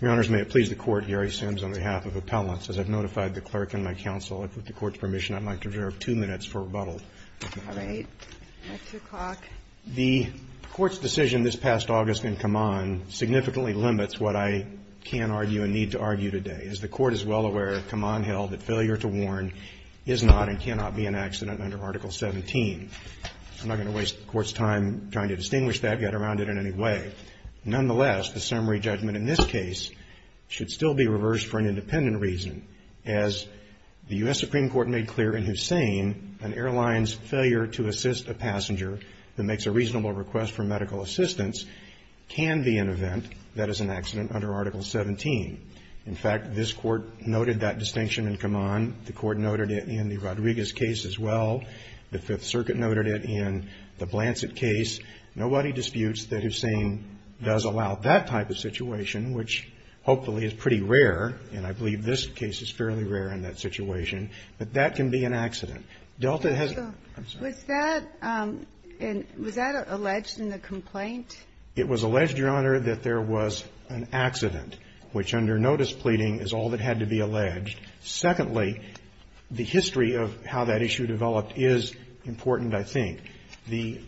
Your Honors, may it please the Court, Gary Sims, on behalf of Appellants. As I've notified the Clerk and my counsel, if with the Court's permission, I'd like to reserve two minutes for rebuttal. All right. At 2 o'clock. The Court's decision this past August in Kaman significantly limits what I can argue and need to argue today. As the Court is well aware, Kaman held that failure to warn is not and cannot be an accident under Article 17. I'm not going to waste the Court's time trying to distinguish that, get around it in any way. Nonetheless, the summary judgment in this case should still be reversed for an independent reason. As the U.S. Supreme Court made clear in Hussain, an airline's failure to assist a passenger that makes a reasonable request for medical assistance can be an event that is an accident under Article 17. In fact, this Court noted that distinction in Kaman. The Court noted it in the Rodriguez case as well. The Fifth Circuit noted it in the Blancet case. Nobody disputes that Hussain does allow that type of situation, which hopefully is pretty rare, and I believe this case is fairly rare in that situation, but that can be an accident. Delta has to go. I'm sorry. Was that alleged in the complaint? It was alleged, Your Honor, that there was an accident, which under notice pleading is all that had to be alleged. Secondly, the history of how that issue developed is important, I think. The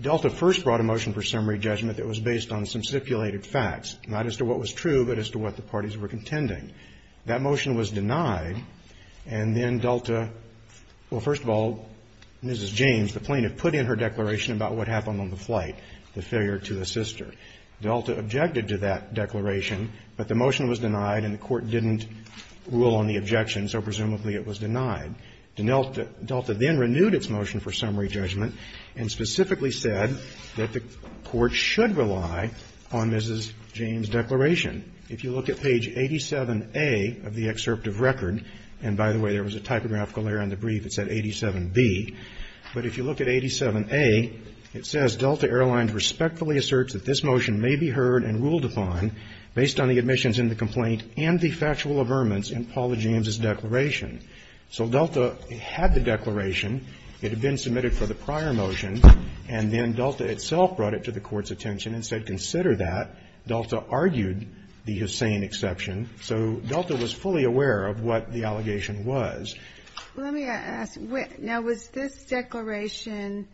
Delta first brought a motion for summary judgment that was based on some stipulated facts, not as to what was true, but as to what the parties were contending. That motion was denied, and then Delta – well, first of all, Mrs. James, the plaintiff, put in her declaration about what happened on the flight, the failure to assist her. Delta objected to that declaration, but the motion was denied and the Court didn't rule on the objection, so presumably it was denied. Delta then renewed its motion for summary judgment and specifically said that the Court should rely on Mrs. James' declaration. If you look at page 87A of the excerpt of record, and by the way, there was a typographical error in the brief that said 87B, but if you look at 87A, it says, So Delta had the declaration, it had been submitted for the prior motion, and then Delta itself brought it to the Court's attention and said, consider that. Delta argued the Hussain exception, so Delta was fully aware of what the allegation was. Let me ask, now, was this declaration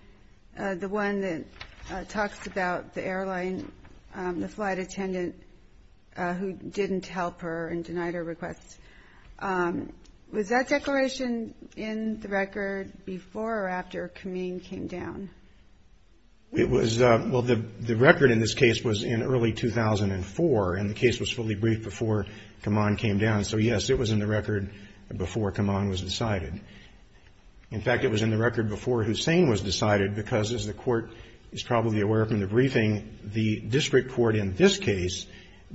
the one that pointed to Hussain's exception and talks about the airline, the flight attendant who didn't help her and denied her request? Was that declaration in the record before or after Khamenei came down? It was, well, the record in this case was in early 2004, and the case was fully briefed before Khamenei came down, so yes, it was in the record before Khamenei was decided. In fact, it was in the record before Hussain was decided, because as the Court is probably aware from the briefing, the district court in this case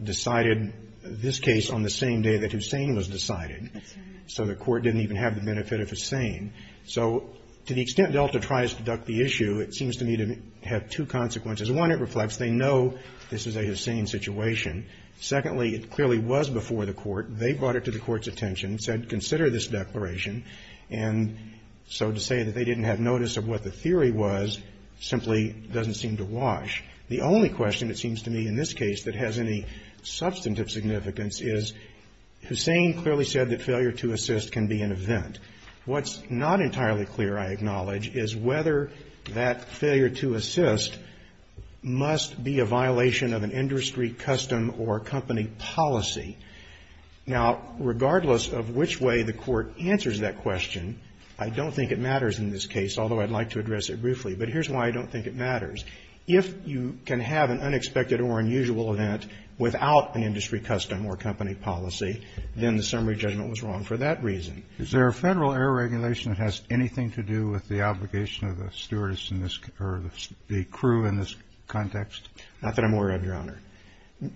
decided this case on the same day that Hussain was decided, so the Court didn't even have the benefit of Hussain. So to the extent Delta tries to duck the issue, it seems to me to have two consequences. One, it reflects they know this is a Hussain situation. Secondly, it clearly was before the Court. They brought it to the Court's attention, said consider this declaration. And so to say that they didn't have notice of what the theory was simply doesn't seem to wash. The only question it seems to me in this case that has any substantive significance is Hussain clearly said that failure to assist can be an event. What's not entirely clear, I acknowledge, is whether that failure to assist must be a violation of an industry, custom or company policy. Now, regardless of which way the Court answers that question, I don't think it matters in this case, although I'd like to address it briefly. But here's why I don't think it matters. If you can have an unexpected or unusual event without an industry, custom or company policy, then the summary judgment was wrong for that reason. Is there a Federal error regulation that has anything to do with the obligation of the stewardess in this or the crew in this context? Not that I'm aware of, Your Honor.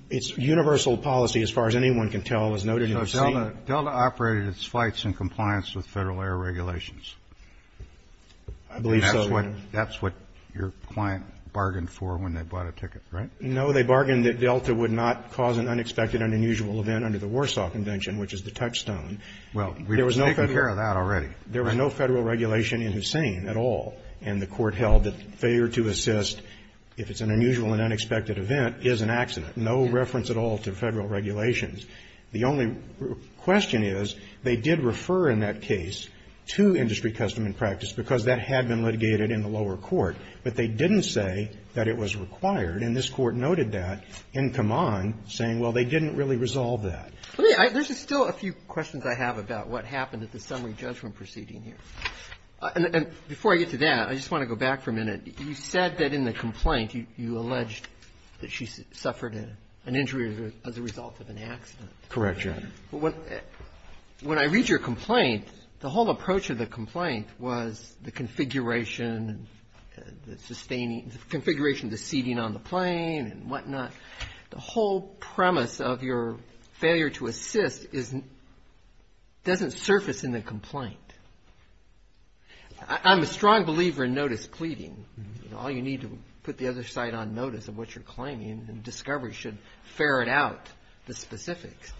It's universal policy, as far as anyone can tell, as noted in Hussain. So Delta operated its flights in compliance with Federal error regulations. I believe so, Your Honor. And that's what your client bargained for when they bought a ticket, right? No, they bargained that Delta would not cause an unexpected and unusual event under the Warsaw Convention, which is the touchstone. Well, we've taken care of that already. There was no Federal regulation in Hussain at all. And the Court held that failure to assist, if it's an unusual and unexpected event, is an accident. No reference at all to Federal regulations. The only question is, they did refer in that case to industry custom and practice because that had been litigated in the lower court. But they didn't say that it was required. And this Court noted that in Kaman, saying, well, they didn't really resolve that. There's still a few questions I have about what happened at the summary judgment proceeding here. And before I get to that, I just want to go back for a minute. You said that in the complaint you alleged that she suffered an injury as a result of an accident. Correct, Your Honor. When I read your complaint, the whole approach of the complaint was the configuration of the seating on the plane and whatnot. The whole premise of your failure to assist doesn't surface in the complaint. I'm a strong believer in notice pleading. All you need to put the other side on notice of what you're claiming and discovery should ferret out the specifics.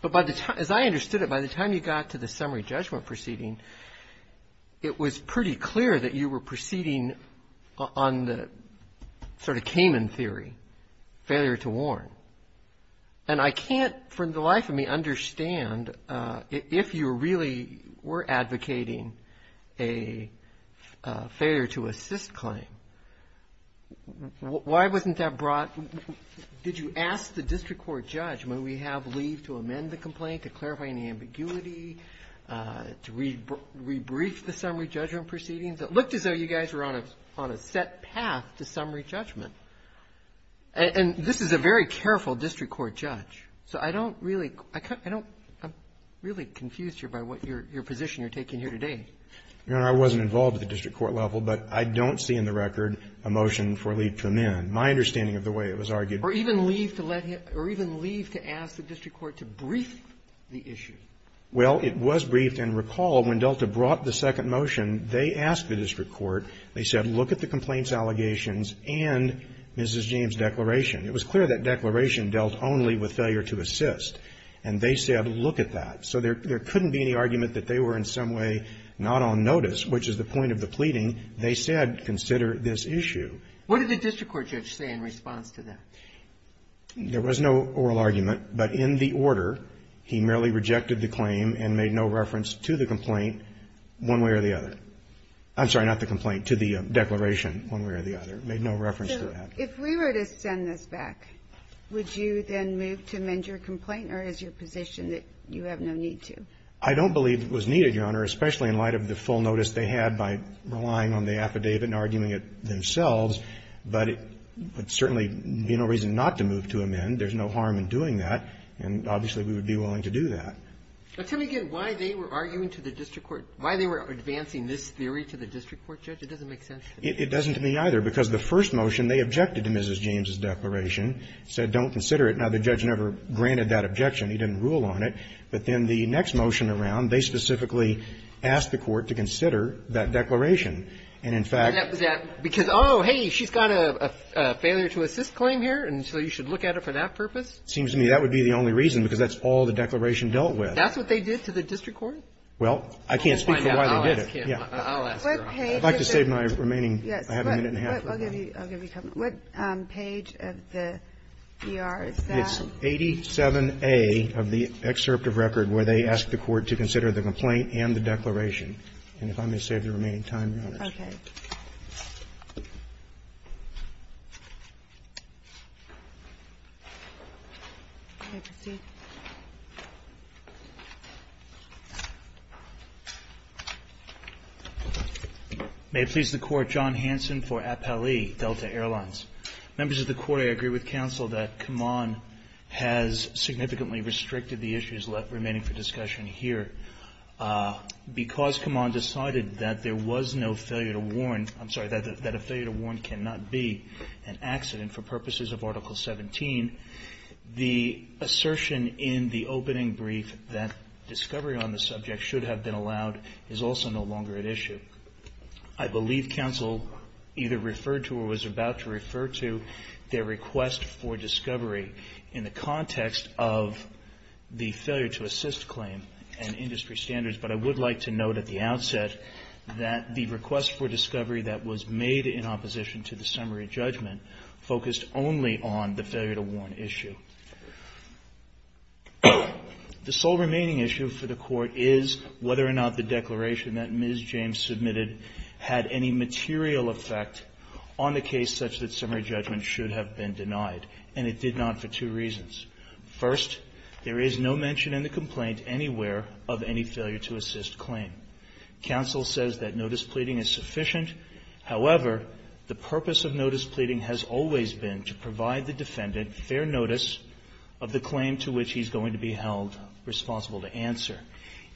But as I understood it, by the time you got to the summary judgment proceeding, it was pretty clear that you were proceeding on the sort of Kaman theory, failure to warn. And I can't for the life of me understand if you really were advocating a failure to assist claim. Why wasn't that brought? Did you ask the district court judge when we have leave to amend the complaint, to clarify any ambiguity, to rebrief the summary judgment proceedings? It looked as though you guys were on a set path to summary judgment. And this is a very careful district court judge. So I don't really, I don't, I'm really confused here by what your position you're taking here today. Your Honor, I wasn't involved at the district court level, but I don't see in the record a motion for leave to amend, my understanding of the way it was argued. Or even leave to let him, or even leave to ask the district court to brief the issue. Well, it was briefed. And recall when Delta brought the second motion, they asked the district court, they said, look at the complaint's allegations and Mrs. James' declaration. It was clear that declaration dealt only with failure to assist. And they said, look at that. So there couldn't be any argument that they were in some way not on notice, which is the point of the pleading. They said, consider this issue. What did the district court judge say in response to that? There was no oral argument. But in the order, he merely rejected the claim and made no reference to the complaint one way or the other. I'm sorry, not the complaint, to the declaration one way or the other. Made no reference to that. So if we were to send this back, would you then move to amend your complaint or is your position that you have no need to? I don't believe it was needed, Your Honor, especially in light of the full notice they had by relying on the affidavit and arguing it themselves. But it would certainly be no reason not to move to amend. There's no harm in doing that. And obviously, we would be willing to do that. Tell me again why they were arguing to the district court, why they were advancing this theory to the district court judge? It doesn't make sense to me. It doesn't to me either, because the first motion, they objected to Mrs. James' declaration, said don't consider it. Now, the judge never granted that objection. He didn't rule on it. But then the next motion around, they specifically asked the court to consider that declaration. And, in fact — And that was that because, oh, hey, she's got a failure to assist claim here, and so you should look at it for that purpose? It seems to me that would be the only reason, because that's all the declaration dealt with. That's what they did to the district court? Well, I can't speak for why they did it. I'll ask her. I'd like to save my remaining half a minute and a half. I'll give you a couple. What page of the ER is that? It's 87A of the excerpt of record where they asked the court to consider the complaint and the declaration. And if I may save the remaining time, Your Honors. Okay. May I proceed? May it please the Court. John Hanson for Appali Delta Airlines. Members of the Court, I agree with counsel that Kaman has significantly restricted the issues remaining for discussion here. Because Kaman decided that there was no failure to warn, I'm sorry, that a failure to warn cannot be an accident for purposes of Article 17, the assertion in the opening brief that discovery on the subject should have been allowed is also no longer at issue. I believe counsel either referred to or was about to refer to their request for discovery in the context of the failure to assist claim and industry standards. But I would like to note at the outset that the request for discovery that was made in opposition to the summary judgment focused only on the failure to warn issue. The sole remaining issue for the Court is whether or not the declaration that Ms. James submitted had any material effect on the case such that summary judgment should have been denied. And it did not for two reasons. First, there is no mention in the complaint anywhere of any failure to assist claim. Counsel says that notice pleading is sufficient. However, the purpose of notice pleading has always been to provide the defendant fair notice of the claim to which he's going to be held responsible to answer.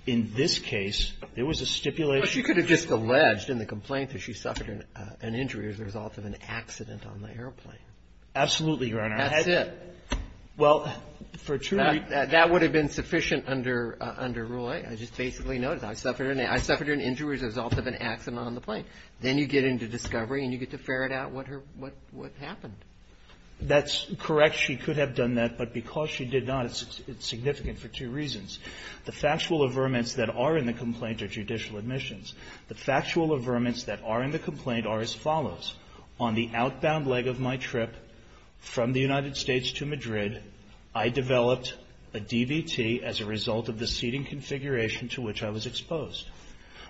In this case, there was a stipulation. But she could have just alleged in the complaint that she suffered an injury as a result of an accident on the airplane. Absolutely, Your Honor. That's it. Well, for two reasons. That would have been sufficient under Rule 8. I just basically noticed. I suffered an injury as a result of an accident on the plane. Then you get into discovery and you get to ferret out what happened. That's correct. She could have done that. But because she did not, it's significant for two reasons. The factual averments that are in the complaint are judicial admissions. The factual averments that are in the complaint are as follows. On the outbound leg of my trip from the United States to Madrid, I developed a DVT as a result of the seating configuration to which I was exposed.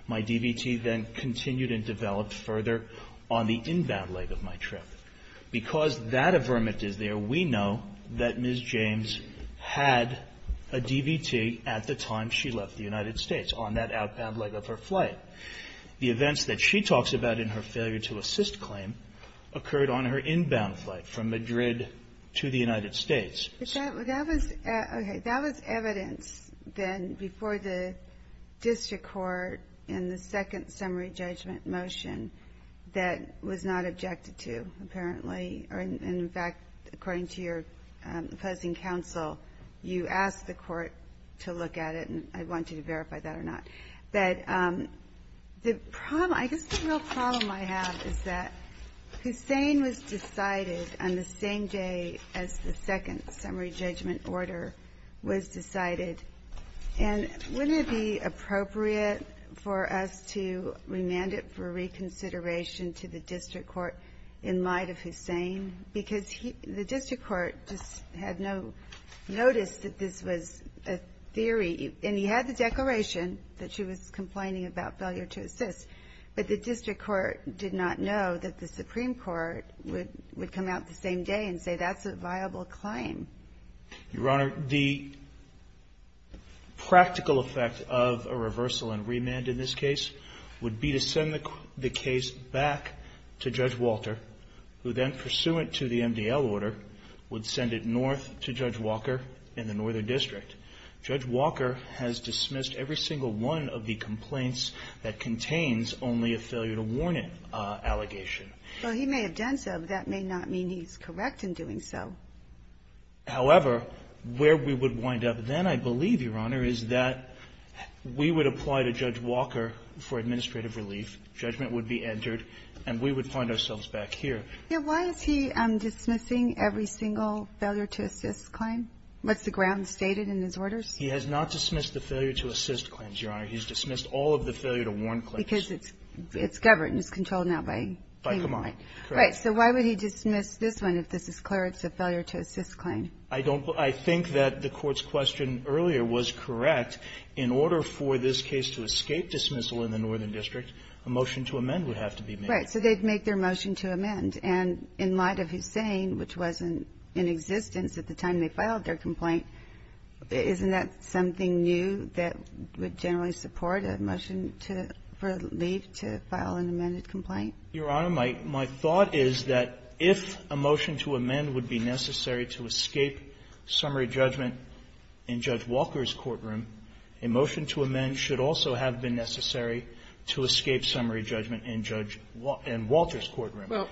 My DVT then continued and developed further on the inbound leg of my trip. Because that averment is there, we know that Ms. James had a DVT at the time she took her flight. The events that she talks about in her failure to assist claim occurred on her inbound flight from Madrid to the United States. Okay. That was evidence then before the district court in the second summary judgment motion that was not objected to, apparently. In fact, according to your opposing counsel, you asked the court to look at it. I want you to verify that or not. But the problem, I guess the real problem I have is that Hussein was decided on the same day as the second summary judgment order was decided. And wouldn't it be appropriate for us to remand it for reconsideration to the district court in light of Hussein? Because the district court just had no notice that this was a theory. And he had the declaration that she was complaining about failure to assist. But the district court did not know that the Supreme Court would come out the same day and say that's a viable claim. Your Honor, the practical effect of a reversal and remand in this case would be to send the case back to Judge Walter, who then, pursuant to the MDL order, would send it north to Judge Walker in the northern district. Judge Walker has dismissed every single one of the complaints that contains only a failure to warn him allegation. Well, he may have done so, but that may not mean he's correct in doing so. However, where we would wind up then, I believe, Your Honor, is that we would apply to Judge Walker for administrative relief, judgment would be entered, and we would find ourselves back here. Why is he dismissing every single failure to assist claim? What's the ground stated in his orders? He has not dismissed the failure to assist claims, Your Honor. He's dismissed all of the failure to warn claims. Because it's governed, it's controlled now by the claimant. Right, so why would he dismiss this one if this is clear it's a failure to assist claim? I think that the court's question earlier was correct. In order for this case to escape dismissal in the northern district, a motion to amend would have to be made. Right, so they'd make their motion to amend. And in light of Hussain, which was in existence at the time they filed their complaint, isn't that something new that would generally support a motion for relief to file an amended complaint? Your Honor, my thought is that if a motion to amend would be necessary to escape summary judgment in Judge Walker's courtroom, a motion to amend should also have been necessary to escape summary judgment in Walter's courtroom. Well,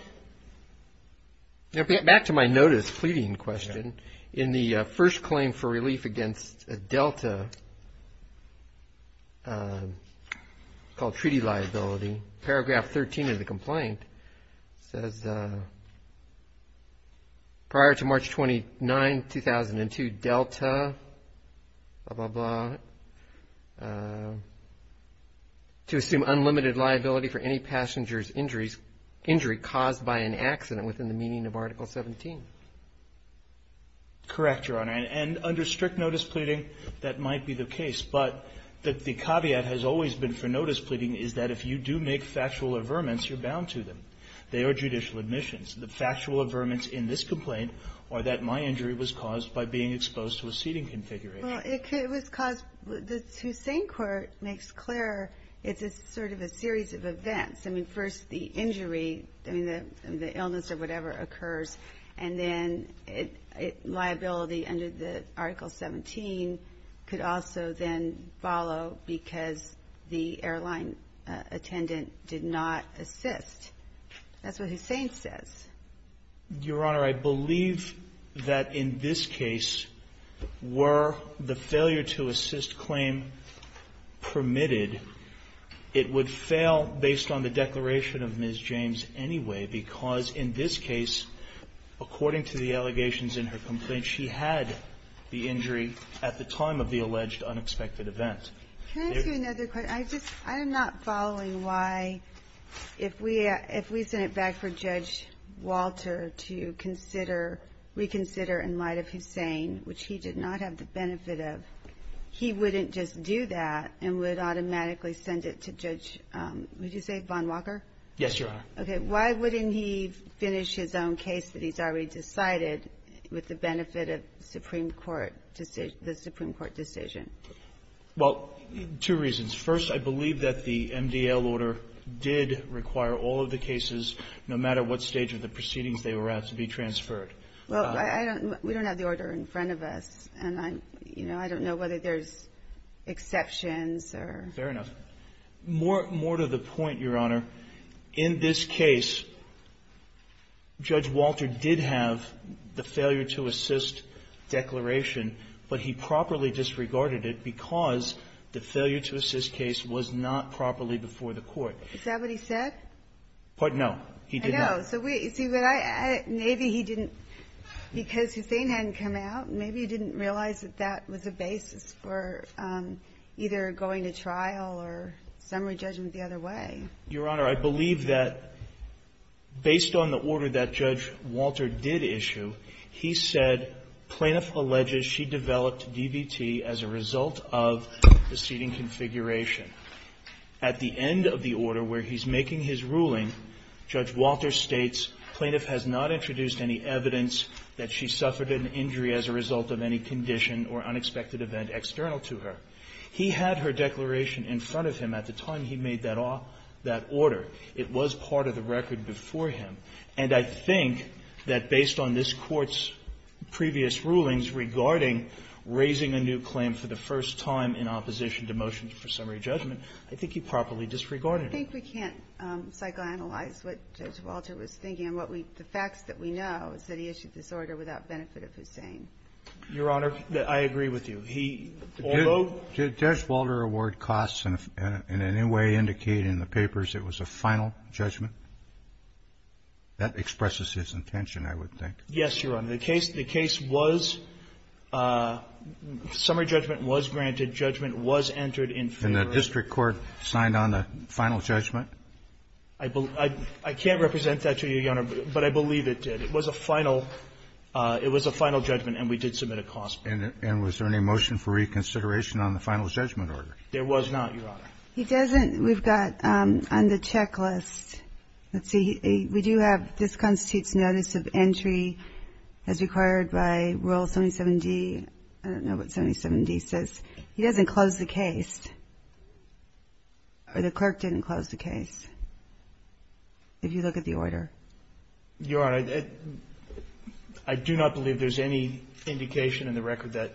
back to my notice pleading question. In the first claim for relief against a delta called treaty liability, paragraph 13 of the complaint says prior to March 29, 2002, delta blah, blah, blah, to assume unlimited liability for any passenger's injury caused by an accident within the meaning of Article 17. Correct, Your Honor. And under strict notice pleading, that might be the case. But the caveat has always been for notice pleading is that if you do make factual averments, you're bound to them. They are judicial admissions. The factual averments in this complaint are that my injury was caused by being exposed to a seating configuration. Well, it was caused, the Hussain court makes clear it's a sort of a series of events. I mean, first the injury, I mean, the illness or whatever occurs, and then liability under the Article 17 could also then follow because the airline attendant did not assist. That's what Hussain says. Your Honor, I believe that in this case, were the failure to assist claim permitted, it would fail based on the declaration of Ms. James anyway because in this case, according to the allegations in her complaint, she had the injury at the time of the alleged unexpected event. Can I ask you another question? I'm not following why if we send it back for Judge Walter to reconsider in light of Hussain, which he did not have the benefit of, he wouldn't just do that and would automatically send it to Judge, would you say, Von Walker? Yes, Your Honor. Okay, why wouldn't he finish his own case that he's already decided with the benefit of the Supreme Court decision? Well, two reasons. First, I believe that the MDL order did require all of the cases, no matter what stage of the proceedings they were at, to be transferred. Well, I don't, we don't have the order in front of us, and I'm, you know, I don't know whether there's exceptions or... Fair enough. More to the point, Your Honor. In this case, Judge Walter did have the failure to assist declaration, but he properly disregarded it because the failure to assist case was not properly before the Court. Is that what he said? Pardon? No, he did not. I know. So we, see, but I, maybe he didn't, because Hussain hadn't come out, maybe he didn't realize that that was a basis for either going to trial or summary judgment the other way. Your Honor, I believe that based on the order that Judge Walter did issue, he said, Plaintiff alleges she developed DVT as a result of the seating configuration. At the end of the order where he's making his ruling, Judge Walter states, Plaintiff has not introduced any evidence that she suffered an injury as a result of any condition or unexpected event external to her. He had her declaration in front of him at the time he made that order. It was part of the record before him. And I think that based on this Court's previous rulings regarding raising a new claim for the first time in opposition to motions for summary judgment, I think he properly disregarded it. I think we can't psychoanalyze what Judge Walter was thinking. What we, the facts that we know is that he issued this order without benefit of Hussain. Your Honor, I agree with you. He, although Did Judge Walter award costs in any way indicate in the papers it was a final judgment? That expresses his intention, I would think. Yes, Your Honor. The case was, summary judgment was granted, judgment was entered in favor of And the district court signed on the final judgment? I can't represent that to you, Your Honor, but I believe it did. It was a final, it was a final judgment and we did submit a cost. And was there any motion for reconsideration on the final judgment order? There was not, Your Honor. He doesn't, we've got on the checklist, let's see, we do have, this constitutes notice of entry as required by Rule 77D, I don't know what 77D says. He doesn't close the case. Or the clerk didn't close the case. If you look at the order. Your Honor, I do not believe there's any indication in the record that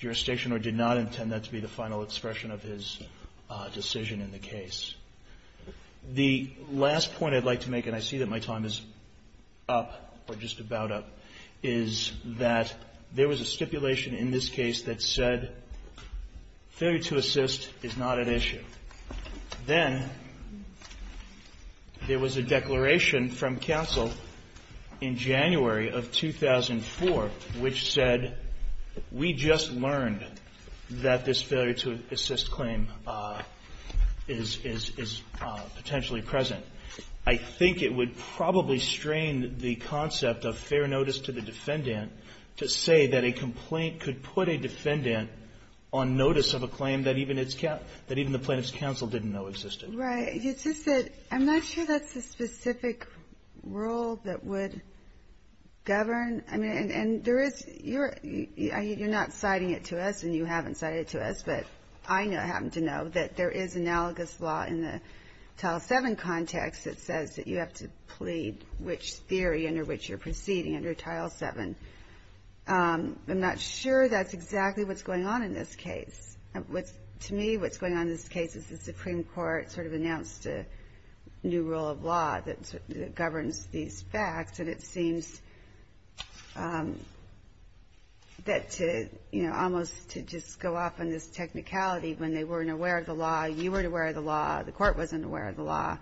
jurisdiction or did not intend that to be the final expression of his decision in the case. The last point I'd like to make, and I see that my time is up, or just about up, is that there was a stipulation in this case that said failure to assist is not an issue. Then there was a declaration from counsel in January of 2004, which said we just learned that this failure to assist claim is potentially present. I think it would probably strain the concept of fair notice to the defendant to say that a complaint could put a defendant on notice of a claim that even the plaintiff's counsel didn't know existed. Right. It's just that I'm not sure that's a specific rule that would govern. You're not citing it to us and you haven't cited it to us, but I happen to know that there is analogous law in the Tile 7 context that says that you have to plead which theory under which you're proceeding under Tile 7. I'm not sure that's exactly what's going on in this case. To me, what's going on in this case is the Supreme Court sort of announced a new rule of law that governs these facts, and it seems that to, you know, almost to just go off on this technicality when they weren't aware of the law, you weren't aware of the law, the Court wasn't aware of the law,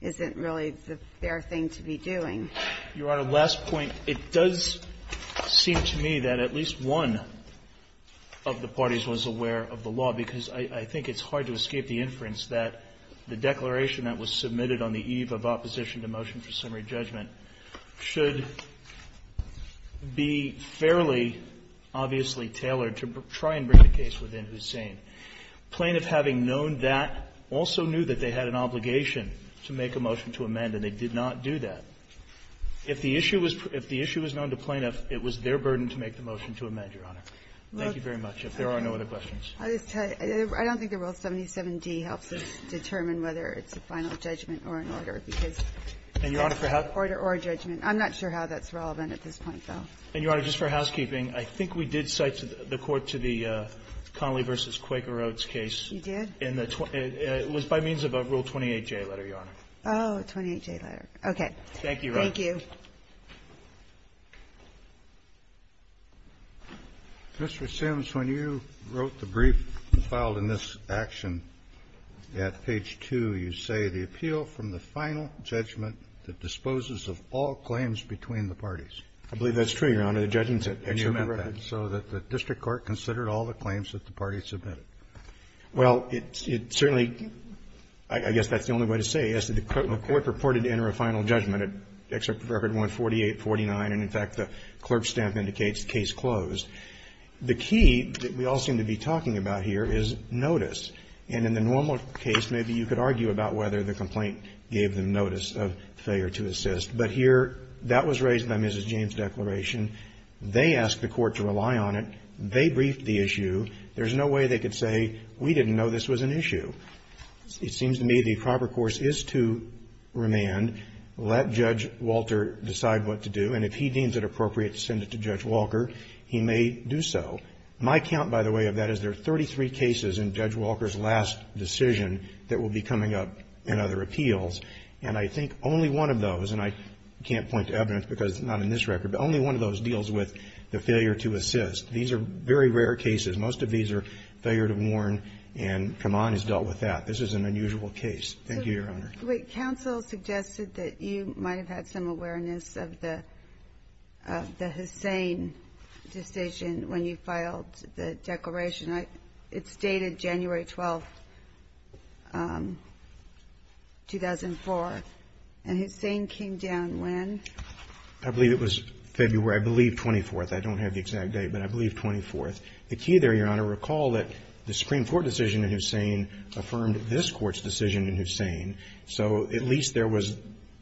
isn't really the fair thing to be doing. Your Honor, last point. It does seem to me that at least one of the parties was aware of the law, because I think it's hard to escape the inference that the declaration that was submitted on the eve of opposition to motion for summary judgment should be fairly obviously tailored to try and bring the case within Hussain. Plaintiff having known that also knew that they had an obligation to make a motion to amend, and they did not do that. If the issue was known to plaintiff, it was their burden to make the motion to amend, Your Honor. Thank you very much. If there are no other questions. I don't think the Rule 77d helps us determine whether it's a final judgment or an order, because it's an order or a judgment. I'm not sure how that's relevant at this point, though. And, Your Honor, just for housekeeping, I think we did cite the Court to the Connolly v. Quaker Oates case. You did? It was by means of a Rule 28J letter, Your Honor. Oh, a 28J letter. Okay. Thank you, Your Honor. Thank you. Mr. Simms, when you wrote the brief and filed in this action at page 2, you say the appeal from the final judgment that disposes of all claims between the parties. I believe that's true, Your Honor. The judgment said that. And you meant that. So that the district court considered all the claims that the parties submitted. Well, it certainly – I guess that's the only way to say it. I guess the court purported to enter a final judgment at Excerpt Record 14849. And, in fact, the clerk's stamp indicates case closed. The key that we all seem to be talking about here is notice. And in the normal case, maybe you could argue about whether the complaint gave them notice of failure to assist. But here, that was raised by Mrs. James' declaration. They asked the Court to rely on it. They briefed the issue. There's no way they could say, we didn't know this was an issue. It seems to me the proper course is to remand, let Judge Walter decide what to do, and if he deems it appropriate to send it to Judge Walker, he may do so. My count, by the way, of that is there are 33 cases in Judge Walker's last decision that will be coming up in other appeals. And I think only one of those, and I can't point to evidence because it's not in this record, but only one of those deals with the failure to assist. These are very rare cases. Most of these are failure to warn, and Kaman has dealt with that. This is an unusual case. Thank you, Your Honor. Wait. Counsel suggested that you might have had some awareness of the Hussein decision when you filed the declaration. It's dated January 12, 2004. And Hussein came down when? I believe it was February, I believe, 24th. I don't have the exact date, but I believe 24th. The key there, Your Honor, recall that the Supreme Court decision in Hussein affirmed this Court's decision in Hussein. So at least there was,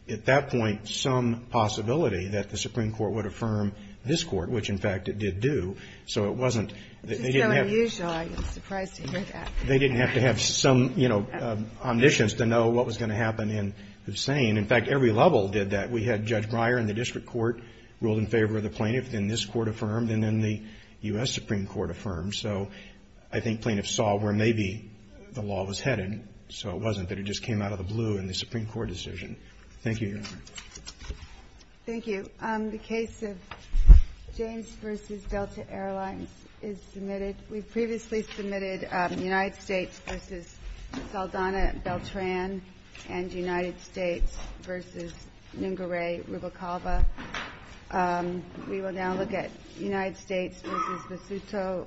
at that point, some possibility that the Supreme Court would affirm this Court, which, in fact, it did do. So it wasn't they didn't have. It's just so unusual. I'm surprised to hear that. They didn't have to have some, you know, omniscience to know what was going to happen in Hussein. In fact, every level did that. We had Judge Breyer in the district court ruled in favor of the plaintiff, and this Court affirmed, and then the U.S. Supreme Court affirmed. So I think plaintiffs saw where maybe the law was headed. So it wasn't that it just came out of the blue in the Supreme Court decision. Thank you, Your Honor. Thank you. The case of James v. Delta Airlines is submitted. We've previously submitted United States v. Saldana Beltran and United States v. Nungaray Rubacalba. We will now look at United States v. Vasuto Pulido.